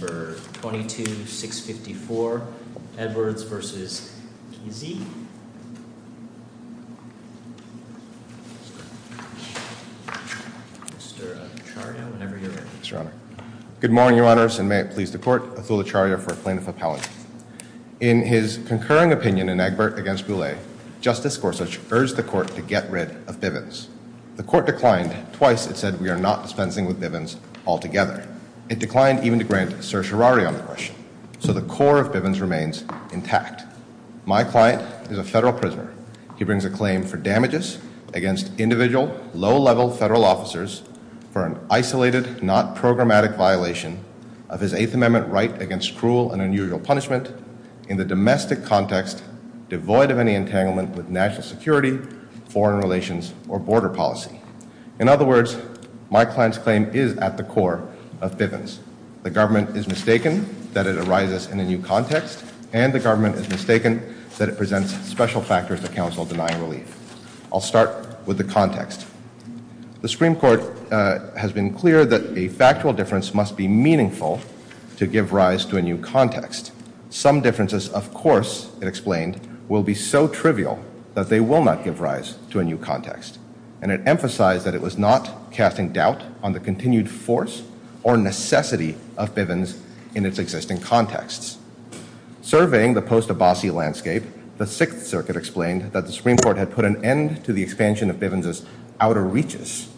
Good morning, Your Honors, and may it please the Court, Athul Acharya for Plaintiff Appellate. In his concurring opinion in Egbert v. Boulay, Justice Gorsuch urged the Court to get rid of Bivens. The Court declined. Twice, it said, we are not dispensing with Bivens altogether. It declined even to grant certiorari on the question. So the core of Bivens remains intact. My client is a federal prisoner. He brings a claim for damages against individual, low-level federal officers for an isolated, not programmatic violation of his Eighth Amendment right against cruel and unusual punishment in the domestic context devoid of any entanglement with national security, foreign relations, or border policy. In other words, my client's claim is at the core of Bivens. The government is mistaken that it arises in a new context, and the government is mistaken that it presents special factors that counsel deny relief. I'll start with the context. The Supreme Court has been clear that a factual difference must be meaningful to give rise to a new context. Some differences, of course, it explained, will be so trivial that they will not give rise to a new context. And it emphasized that it was not casting doubt on the continued force or necessity of Bivens in its existing contexts. Surveying the post-Abbasi landscape, the Sixth Circuit explained that the Supreme Court had put an end to the expansion of Bivens' outer reaches,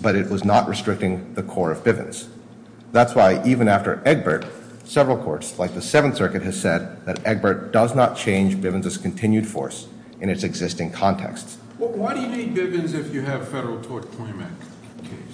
but it was not restricting the core of Bivens. That's why even after Egbert, several courts, like the Seventh Circuit, have said that Egbert does not change Bivens' continued force in its existing contexts. Why do you need Bivens if you have a Federal Tort Claims Act case?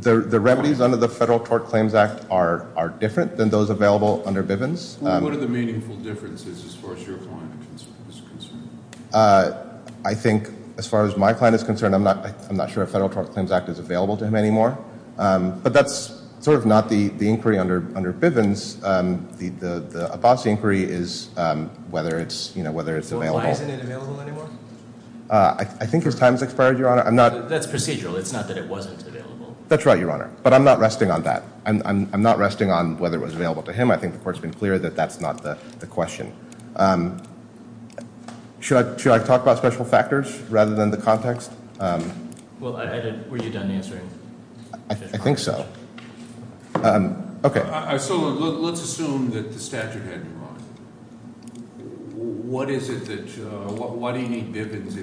The remedies under the Federal Tort Claims Act are different than those available under Bivens. What are the meaningful differences as far as your client is concerned? I think, as far as my client is concerned, I'm not sure a Federal Tort Claims Act is available to him anymore. But that's sort of not the inquiry under Bivens. The Abbasi inquiry is whether it's, you know, whether it's available. Why isn't it available anymore? I think his time has expired, Your Honor. That's procedural. It's not that it wasn't available. That's right, Your Honor. But I'm not resting on that. I'm not resting on whether it was available to him. I think the Court's been clear that that's not the question. Should I talk about special factors rather than the context? Well, were you done answering? I think so. Okay. So let's assume that the statute had you wrong. Why do you need Bivens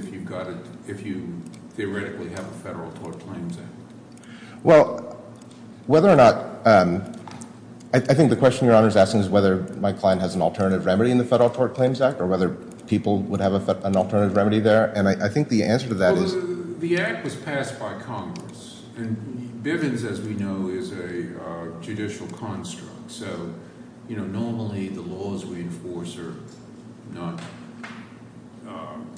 if you theoretically have a Federal Tort Claims Act? Well, whether or not—I think the question Your Honor is asking is whether my client has an alternative remedy in the Federal Tort Claims Act or whether people would have an alternative remedy there. And I think the answer to that is— The Act was passed by Congress. And Bivens, as we know, is a judicial construct. So, you know, normally the laws we enforce are not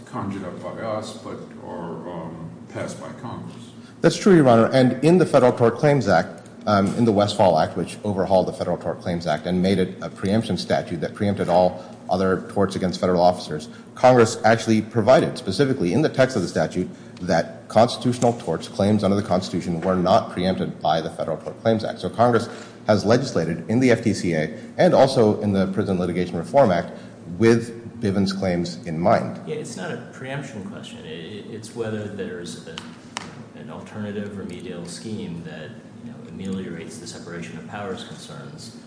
conjured up by us but are passed by Congress. That's true, Your Honor. And in the Federal Tort Claims Act, in the Westfall Act, which overhauled the Federal Tort Claims Act and made it a preemption statute that preempted all other torts against federal officers, Congress actually provided specifically in the text of the statute that constitutional torts, claims under the Constitution, were not preempted by the Federal Tort Claims Act. So Congress has legislated in the FTCA and also in the Prison Litigation Reform Act with Bivens' claims in mind. Yeah, it's not a preemption question. It's whether there's an alternative remedial scheme that, you know, ameliorates the separation of powers concerns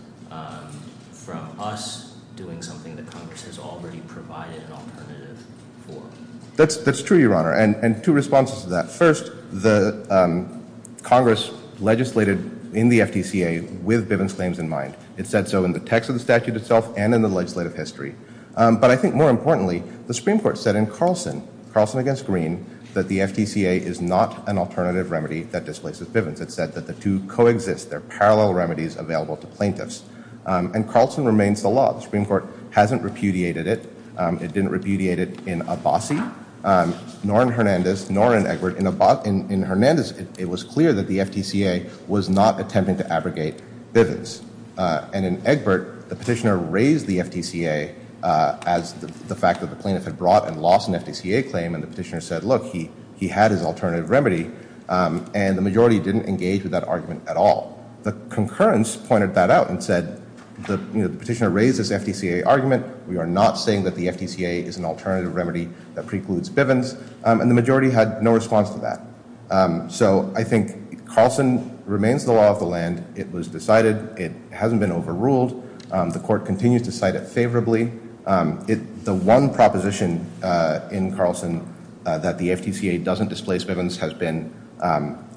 from us doing something that Congress has already provided an alternative for. That's true, Your Honor. And two responses to that. First, the Congress legislated in the FTCA with Bivens' claims in mind. It said so in the text of the statute itself and in the legislative history. But I think more importantly, the Supreme Court said in Carlson, Carlson against Greene, that the FTCA is not an alternative remedy that displaces Bivens. It said that the two coexist, they're parallel remedies available to plaintiffs. And Carlson remains the law. The Supreme Court hasn't repudiated it. It didn't repudiate it in Abbasi, nor in Hernandez, nor in Egbert. In Hernandez, it was clear that the FTCA was not attempting to abrogate Bivens. And in Egbert, the petitioner raised the FTCA as the fact that the plaintiff had brought and lost an FTCA claim and the petitioner said, look, he had his alternative remedy and the majority didn't engage with that argument at all. The concurrence pointed that out and said the petitioner raised this FTCA argument. We are not saying that the FTCA is an alternative remedy that precludes Bivens and the majority had no response to that. So I think Carlson remains the law of the land. It was decided. It hasn't been overruled. The court continues to cite it favorably. The one proposition in Carlson that the FTCA doesn't displace Bivens has been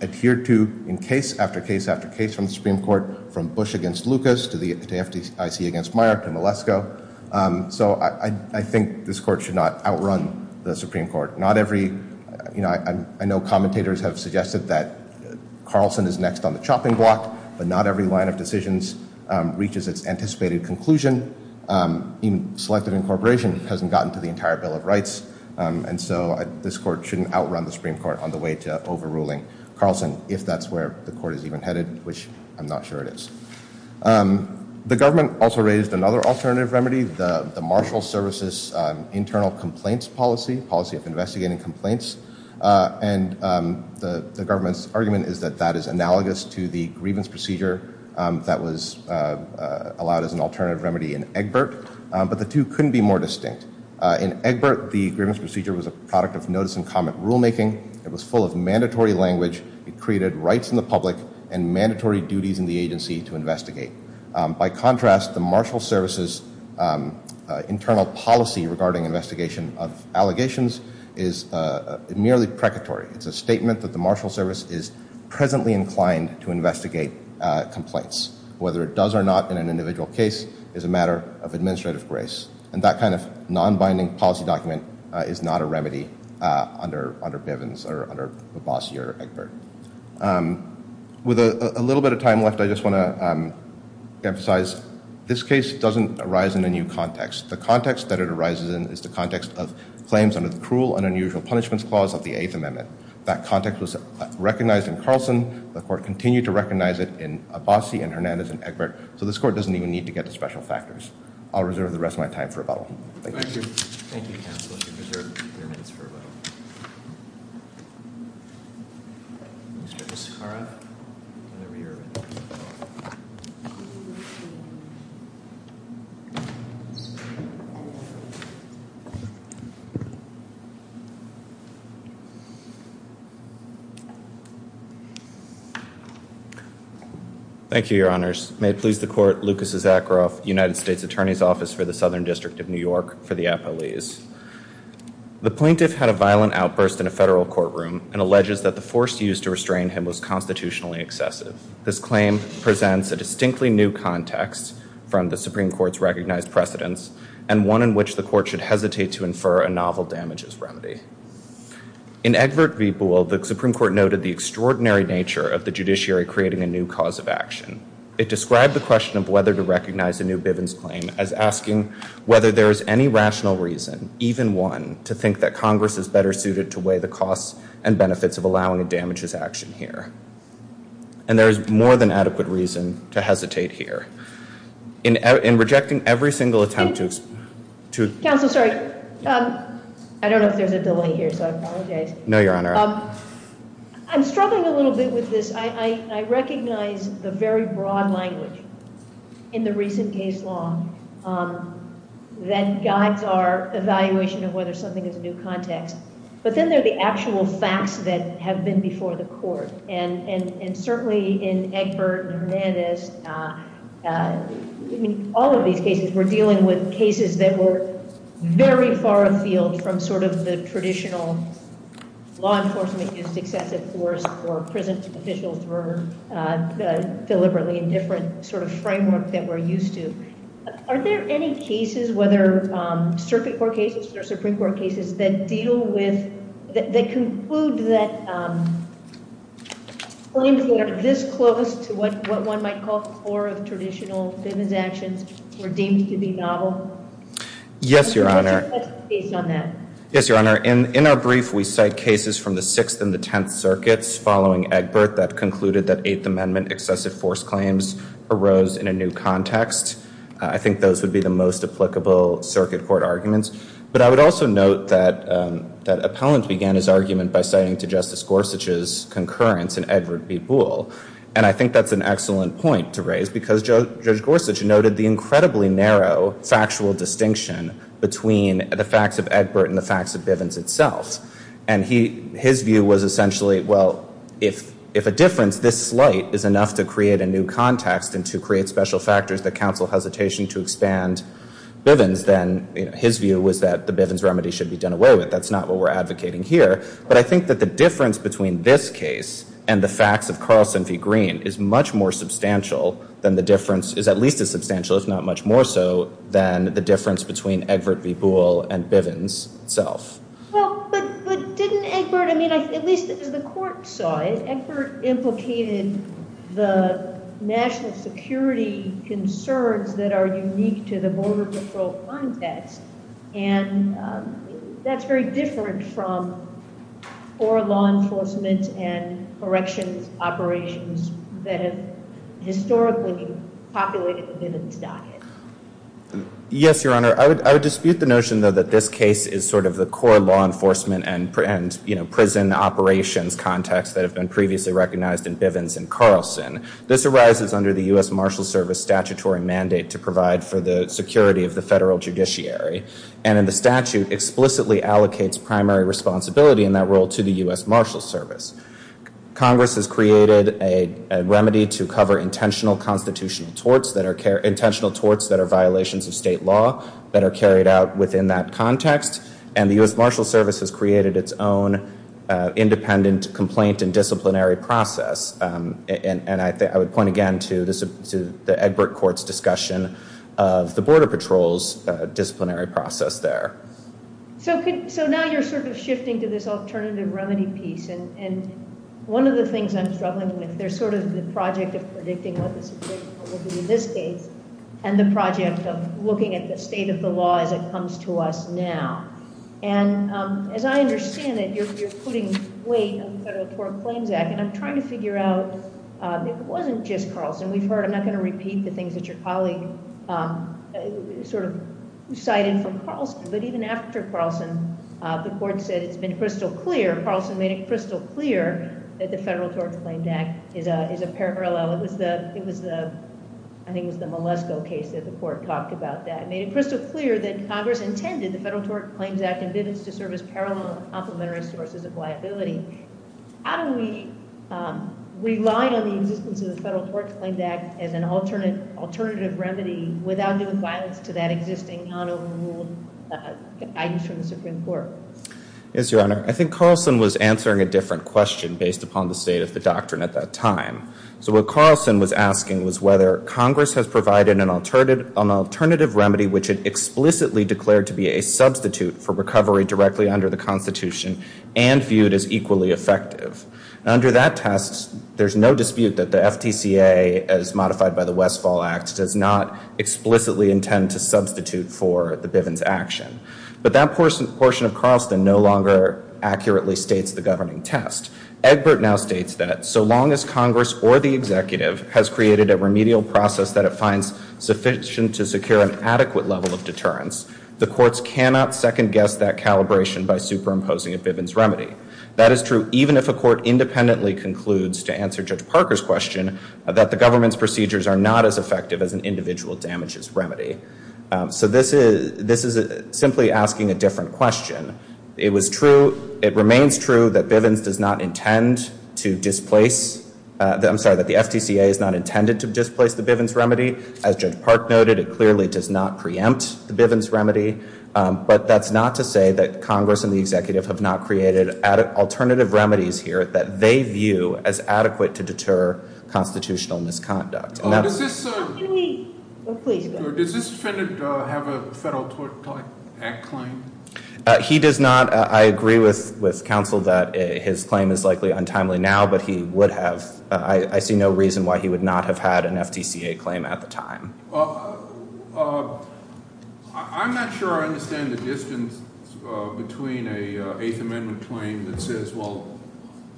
adhered to in case after case after case from the Supreme Court from Bush against Lucas to the FTCA against Meyer to Malesko. So I think this court should not outrun the Supreme Court. Not every, you know, I know commentators have suggested that Carlson is next on the chopping block, but not every line of decisions reaches its anticipated conclusion. Even selective incorporation hasn't gotten to the entire Bill of Rights. And so this court shouldn't outrun the Supreme Court on the way to overruling Carlson if that's where the court is even headed, which I'm not sure it is. The government also raised another alternative remedy, the Marshall Services Internal Complaints Policy, policy of investigating complaints. And the government's argument is that that is analogous to the grievance procedure that was allowed as an alternative remedy in Egbert. But the two couldn't be more distinct. In Egbert, the grievance procedure was a product of notice and comment rulemaking. It was full of mandatory language. It created rights in the public and mandatory duties in the agency to investigate. By contrast, the Marshall Services internal policy regarding investigation of allegations is merely precatory. It's a statement that the Marshall Service is presently inclined to investigate complaints. Whether it does or not in an individual case is a matter of administrative grace. And that kind of non-binding policy document is not a remedy under Bivens or under Abbasi or Egbert. With a little bit of time left, I just want to emphasize, this case doesn't arise in a new context. The context that it arises in is the context of claims under the Cruel and Unusual Punishments Clause of the Eighth Amendment. That context was recognized in Carlson. The court continued to recognize it in Abbasi and Hernandez and Egbert. So this court doesn't even need to get to special factors. I'll reserve the rest of my time for rebuttal. Thank you. Thank you. Thank you, counsel. I'll reserve your minutes for rebuttal. Thank you, your honors. May it please the court, Lucas Isakroff, United States Attorney's Office for the Southern District of New York, for the appellees. The plaintiff had a violent outburst in a federal courtroom and alleges that the force used to restrain him was constitutionally excessive. This claim presents a distinctly new context from the Supreme Court's recognized precedents and one in which the court should hesitate to infer a novel damages remedy. In Egbert v. Boole, the Supreme Court noted the extraordinary nature of the judiciary creating a new cause of action. It described the question of whether to recognize a new Bivens claim as asking whether there is any rational reason, even one, to think that Congress is better suited to weigh the costs and benefits of allowing a damages action here. And there is more than adequate reason to hesitate here. In rejecting every single attempt to- Counsel, sorry. I don't know if there's a delay here, so I apologize. No, your honor. I'm struggling a little bit with this. I recognize the very broad language in the recent case law that guides our evaluation of whether something is a new context. But then there are the actual facts that have been before the court. And certainly in Egbert and Hernandez, all of these cases were dealing with cases that were very far afield from the traditional law where individuals were deliberately in different sort of framework that we're used to. Are there any cases, whether circuit court cases or Supreme Court cases, that deal with, that conclude that claims that are this close to what one might call core of traditional Bivens actions were deemed to be novel? Yes, your honor. Yes, your honor. In our brief, we cite cases from the Sixth and the Tenth Circuits following Egbert that concluded that Eighth Amendment excessive force claims arose in a new context. I think those would be the most applicable circuit court arguments. But I would also note that Appellant began his argument by citing to Justice Gorsuch's concurrence in Egbert v. Boole. And I think that's an excellent point to raise, because Judge Gorsuch noted the incredibly narrow factual distinction between the facts of Egbert and the facts of Bivens itself. And his view was essentially, well, if a difference this slight is enough to create a new context and to create special factors that counsel hesitation to expand Bivens, then his view was that the Bivens remedy should be done away with. That's not what we're advocating here. But I think that the difference between this case and the facts of Carlson v. Green is much more substantial than the difference, is at least as substantial, if not much more so, than the difference between Egbert v. Boole and Bivens itself. Well, but didn't Egbert, I mean, at least as the court saw it, Egbert implicated the national security concerns that are unique to the border patrol context. And that's very different from oral law enforcement and corrections operations that have historically populated the Bivens docket. Yes, Your Honor. I would dispute the notion, though, that this case is the core law enforcement and prison operations context that have been previously recognized in Bivens and Carlson. This arises under the US Marshal Service statutory mandate to provide for the security of the federal judiciary. And the statute explicitly allocates primary responsibility in that role to the US Marshal Service. Congress has created a remedy to cover intentional constitutional torts that are intentional torts that are violations of state law that are carried out within that context. And the US Marshal Service has created its own independent complaint and disciplinary process. And I would point again to the Egbert court's discussion of the border patrol's disciplinary process there. So now you're sort of shifting to this alternative remedy piece. And one of the things I'm struggling with, there's sort of the project of predicting what the situation will be in this case, and the project of looking at the state of the law as it comes to us now. And as I understand it, you're putting weight on the Federal Tort Claims Act. And I'm trying to figure out if it wasn't just Carlson. We've heard, I'm not going to repeat the things that your colleague sort of cited from Carlson, but even after Carlson, the court said it's been crystal clear, Carlson made it crystal clear that the Federal Tort Claims Act is a parallel. It was the, I think it was the Malesko case that the court talked about that. Made it crystal clear that Congress intended the Federal Tort Claims Act and bids to serve as parallel complementary sources of liability. How do we rely on the existence of the Federal Tort Claims Act as an alternative remedy without doing violence to that existing non-overruled item from the Supreme Court? Yes, Your Honor. I think Carlson was answering a different question based upon the state of the doctrine at that time. So what Carlson was asking was whether Congress has provided an alternative remedy which it explicitly declared to be a substitute for recovery directly under the Constitution and viewed as equally effective. Under that test, there's no dispute that the FTCA, as modified by the Westfall Act, does not explicitly intend to substitute for the Bivens action. But that portion of Carlson no longer accurately states the governing test. Egbert now states that so long as Congress or the executive has created a remedial process that it finds sufficient to secure an adequate level of deterrence, the courts cannot second guess that calibration by superimposing a Bivens remedy. That is true even if a court independently concludes, to answer Judge Parker's question, that the government's procedures are not as effective as an individual damages remedy. So this is simply asking a different question. It was true, it remains true that Bivens does not intend to displace, I'm sorry, that the FTCA is not intended to displace the Bivens remedy. As Judge Park noted, it clearly does not preempt the Bivens remedy. But that's not to say that Congress and the executive have not created alternative remedies here that they view as adequate to deter constitutional misconduct. And that's- Please, go ahead. Does this defendant have a federal tort act claim? He does not. I agree with counsel that his claim is likely untimely now, but he would have. I see no reason why he would not have had an FTCA claim at the time. I'm not sure I understand the distance between a Eighth Amendment claim that says, well,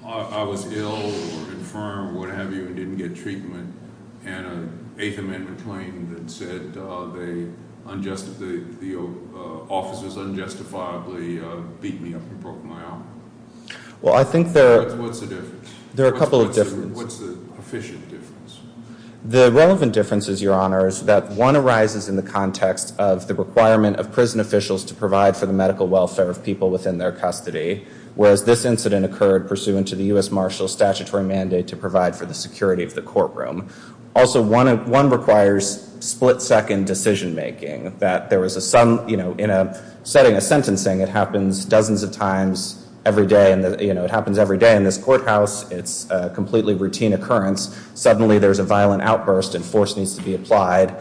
I was ill or infirm or what have you and didn't get treatment. And an Eighth Amendment claim that said the officers unjustifiably beat me up and broke my arm. Well, I think there- What's the difference? There are a couple of differences. What's the efficient difference? The relevant difference is, Your Honor, is that one arises in the context of the requirement of prison officials to provide for the medical welfare of people within their custody, whereas this incident occurred pursuant to the US Marshal's statutory mandate to provide for the security of the courtroom. Also, one requires split-second decision-making. That there was a sudden, you know, in a setting of sentencing, it happens dozens of times every day. And, you know, it happens every day in this courthouse. It's a completely routine occurrence. Suddenly, there's a violent outburst and force needs to be applied.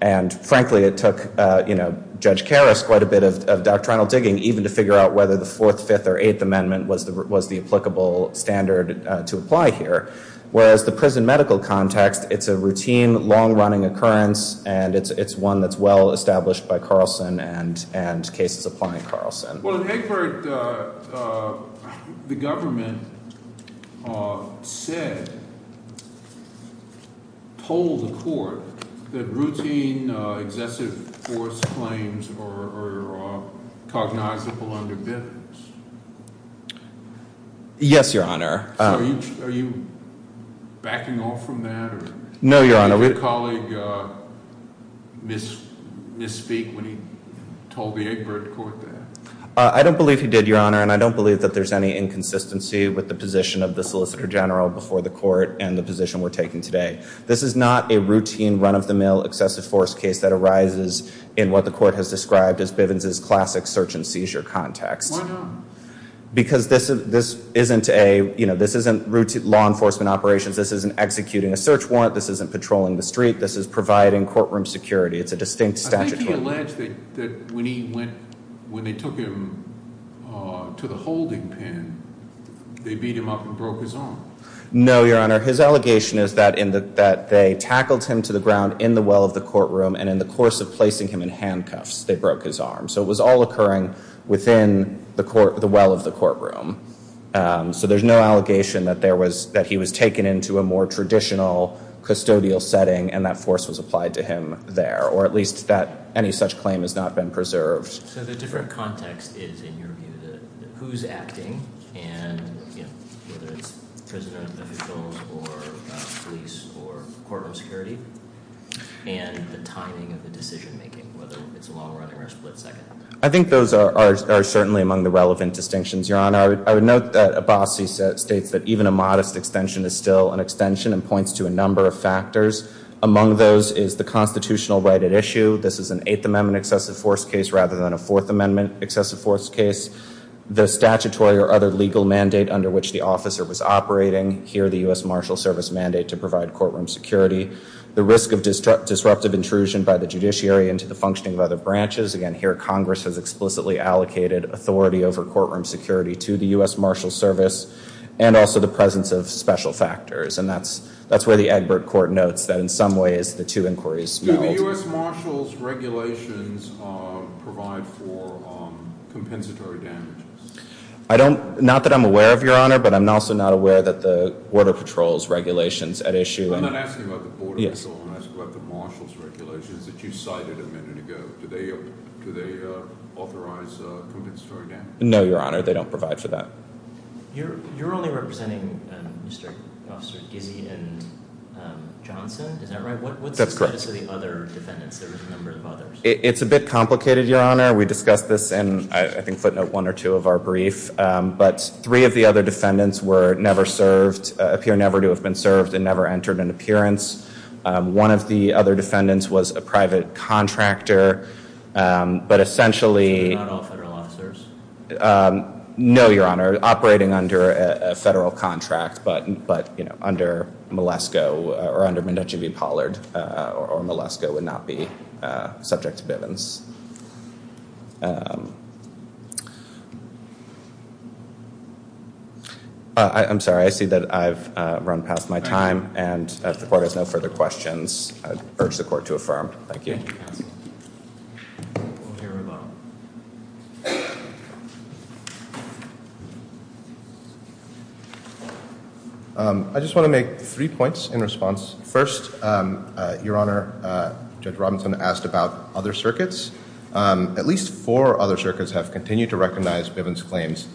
And frankly, it took, you know, Judge Karras quite a bit of doctrinal digging even to figure out whether the Fourth, Fifth, or Eighth Amendment was the applicable standard to apply here. Whereas the prison medical context, it's a routine, long-running occurrence, and it's one that's well-established by Carlson and cases applying Carlson. Well, in Hickford, the government said, told the court that routine, excessive force claims are cognizable under Bivens. Yes, Your Honor. So, are you backing off from that? No, Your Honor. Did your colleague misspeak when he told the Hickford court that? I don't believe he did, Your Honor, and I don't believe that there's any inconsistency with the position of the Solicitor General before the court and the position we're taking today. This is not a routine, run-of-the-mill, excessive force case that arises in what the court has described as Bivens' classic search and seizure context. Why not? Because this isn't law enforcement operations. This isn't executing a search warrant. This isn't patrolling the street. This is providing courtroom security. It's a distinct statutory. I think he alleged that when they took him to the holding pen, they beat him up and broke his arm. No, Your Honor. His allegation is that they tackled him to the ground in the well of the courtroom, and in the course of placing him in handcuffs, they broke his arm. So it was all occurring within the well of the courtroom. So there's no allegation that he was taken into a more traditional custodial setting, and that force was applied to him there, or at least that any such claim has not been preserved. So the different context is, in your view, who's acting, and whether it's prison officials or police or I think those are certainly among the relevant distinctions, Your Honor. I would note that Abbasi states that even a modest extension is still an extension and points to a number of factors. Among those is the constitutional right at issue. This is an Eighth Amendment excessive force case rather than a Fourth Amendment excessive force case. The statutory or other legal mandate under which the officer was operating, here the U.S. Marshal Service mandate to provide courtroom security. The risk of disruptive intrusion by the judiciary into the functioning of other branches, again here Congress has explicitly allocated authority over courtroom security to the U.S. Marshal Service, and also the presence of special factors. And that's where the Egbert Court notes that in some ways the two inquiries- Do the U.S. Marshal's regulations provide for compensatory damages? Not that I'm aware of, Your Honor, but I'm also not aware that the Border Patrol's regulations at issue- I'm not asking about the Border Patrol, I'm asking about the Marshal's regulations that you cited a minute ago. Do they authorize compensatory damages? No, Your Honor, they don't provide for that. You're only representing Mr. Officer Gizzy and Johnson, is that right? What's the status of the other defendants? There was a number of others. It's a bit complicated, Your Honor. We discussed this in, I think, footnote one or two of our brief. But three of the other defendants were never served, appear never to have been served, and never entered an appearance. One of the other defendants was a private contractor, but essentially- Not all federal officers? No, Your Honor. Operating under a federal contract, but under Malesko, or under Mnuchin v. Pollard, or Malesko would not be subject to bivens. I'm sorry, I see that I've run past my time, and if the court has no further questions, I urge the court to affirm. Thank you. I just want to make three points in response. First, Your Honor, Judge Robinson asked about other circuits. At least four other circuits have continued to recognize Bivens' claims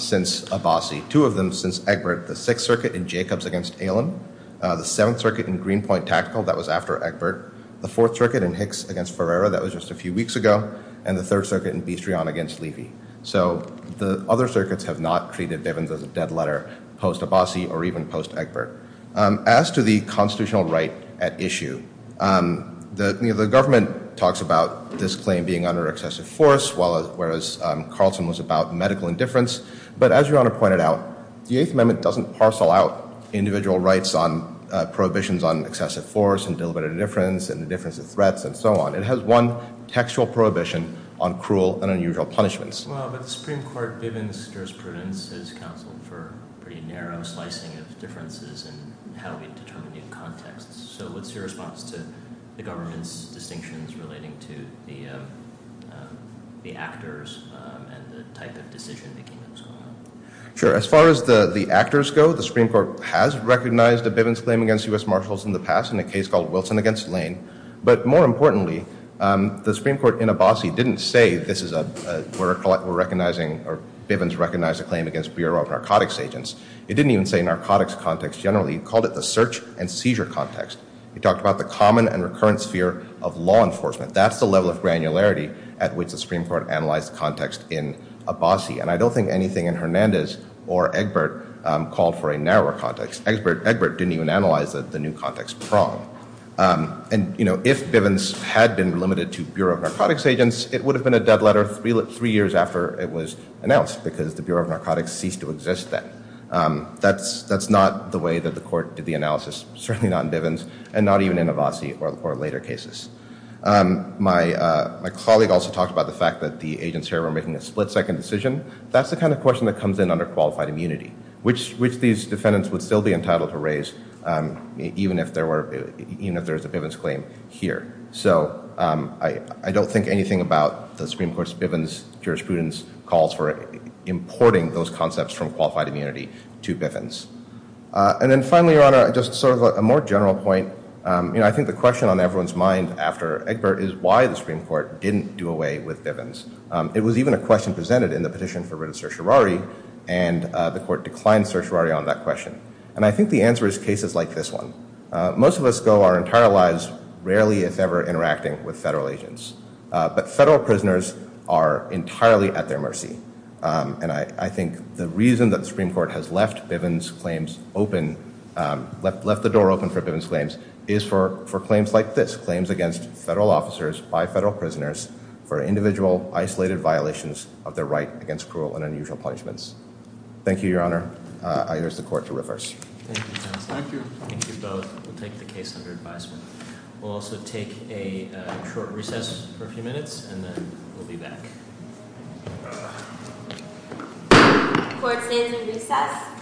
since Abbasi. Two of them since Egbert. The Sixth Circuit in Jacobs against Allen. The Seventh Circuit in Greenpoint Tactical, that was after Egbert. The Fourth Circuit in Hicks against Ferreira, that was just a few weeks ago. And the Third Circuit in Bistreon against Levy. So the other circuits have not treated Bivens as a dead letter post-Abbasi or even post-Egbert. As to the constitutional right at issue, the government talks about this claim being under excessive force, whereas Carlson was about medical indifference. But as Your Honor pointed out, the Eighth Amendment doesn't parcel out individual rights on prohibitions on excessive force and deliberative indifference and indifference of threats and so on. It has one textual prohibition on cruel and unusual punishments. Well, but the Supreme Court Bivens jurisprudence has counseled for a pretty narrow slicing of differences in how we determine the contexts. So what's your response to the government's distinctions relating to the actors and the type of decision-making that was going on? Sure. As far as the actors go, the Supreme Court has recognized a Bivens claim against U.S. Marshals in the past in a case called Wilson against Lane. But more importantly, the Supreme Court in Abbasi didn't say this is a, we're recognizing, or Bivens recognized a claim against Bureau of Narcotics Agents. It didn't even say narcotics context generally. It called it the search and seizure context. It talked about the common and recurrent sphere of law enforcement. That's the level of granularity at which the Supreme Court analyzed context in Abbasi. And I don't think anything in Hernandez or Egbert called for a narrower context. Egbert didn't even analyze the new context prong. And, you know, if Bivens had been limited to Bureau of Narcotics Agents, it would have been a dead letter three years after it was announced because the Bureau of Narcotics ceased to exist then. That's not the way that the court did the analysis, certainly not in Bivens, and not even in Abbasi or later cases. My colleague also talked about the fact that the agents here were making a split-second decision. That's the kind of question that comes in under qualified immunity, which these defendants would still be entitled to raise, even if there was a Bivens claim here. So I don't think anything about the Supreme Court's Bivens jurisprudence calls for importing those concepts from qualified immunity to Bivens. And then finally, Your Honor, just sort of a more general point. You know, I think the question on everyone's mind after Egbert is why the Supreme Court didn't do away with Bivens. It was even a question presented in the petition for written certiorari, and the court declined certiorari on that question. And I think the answer is cases like this one. Most of us go our entire lives, rarely, if ever, interacting with federal agents. But federal prisoners are entirely at their mercy. And I think the reason that the Supreme Court has left Bivens claims open, left the door open for Bivens claims, is for claims like this. Claims against federal officers by federal prisoners for individual isolated violations of their right against cruel and unusual punishments. Thank you, Your Honor. I urge the court to reverse. Thank you, counsel. Thank you. Thank you both. We'll take the case under advisement. We'll also take a short recess for a few minutes, and then we'll be back. Court stays in recess.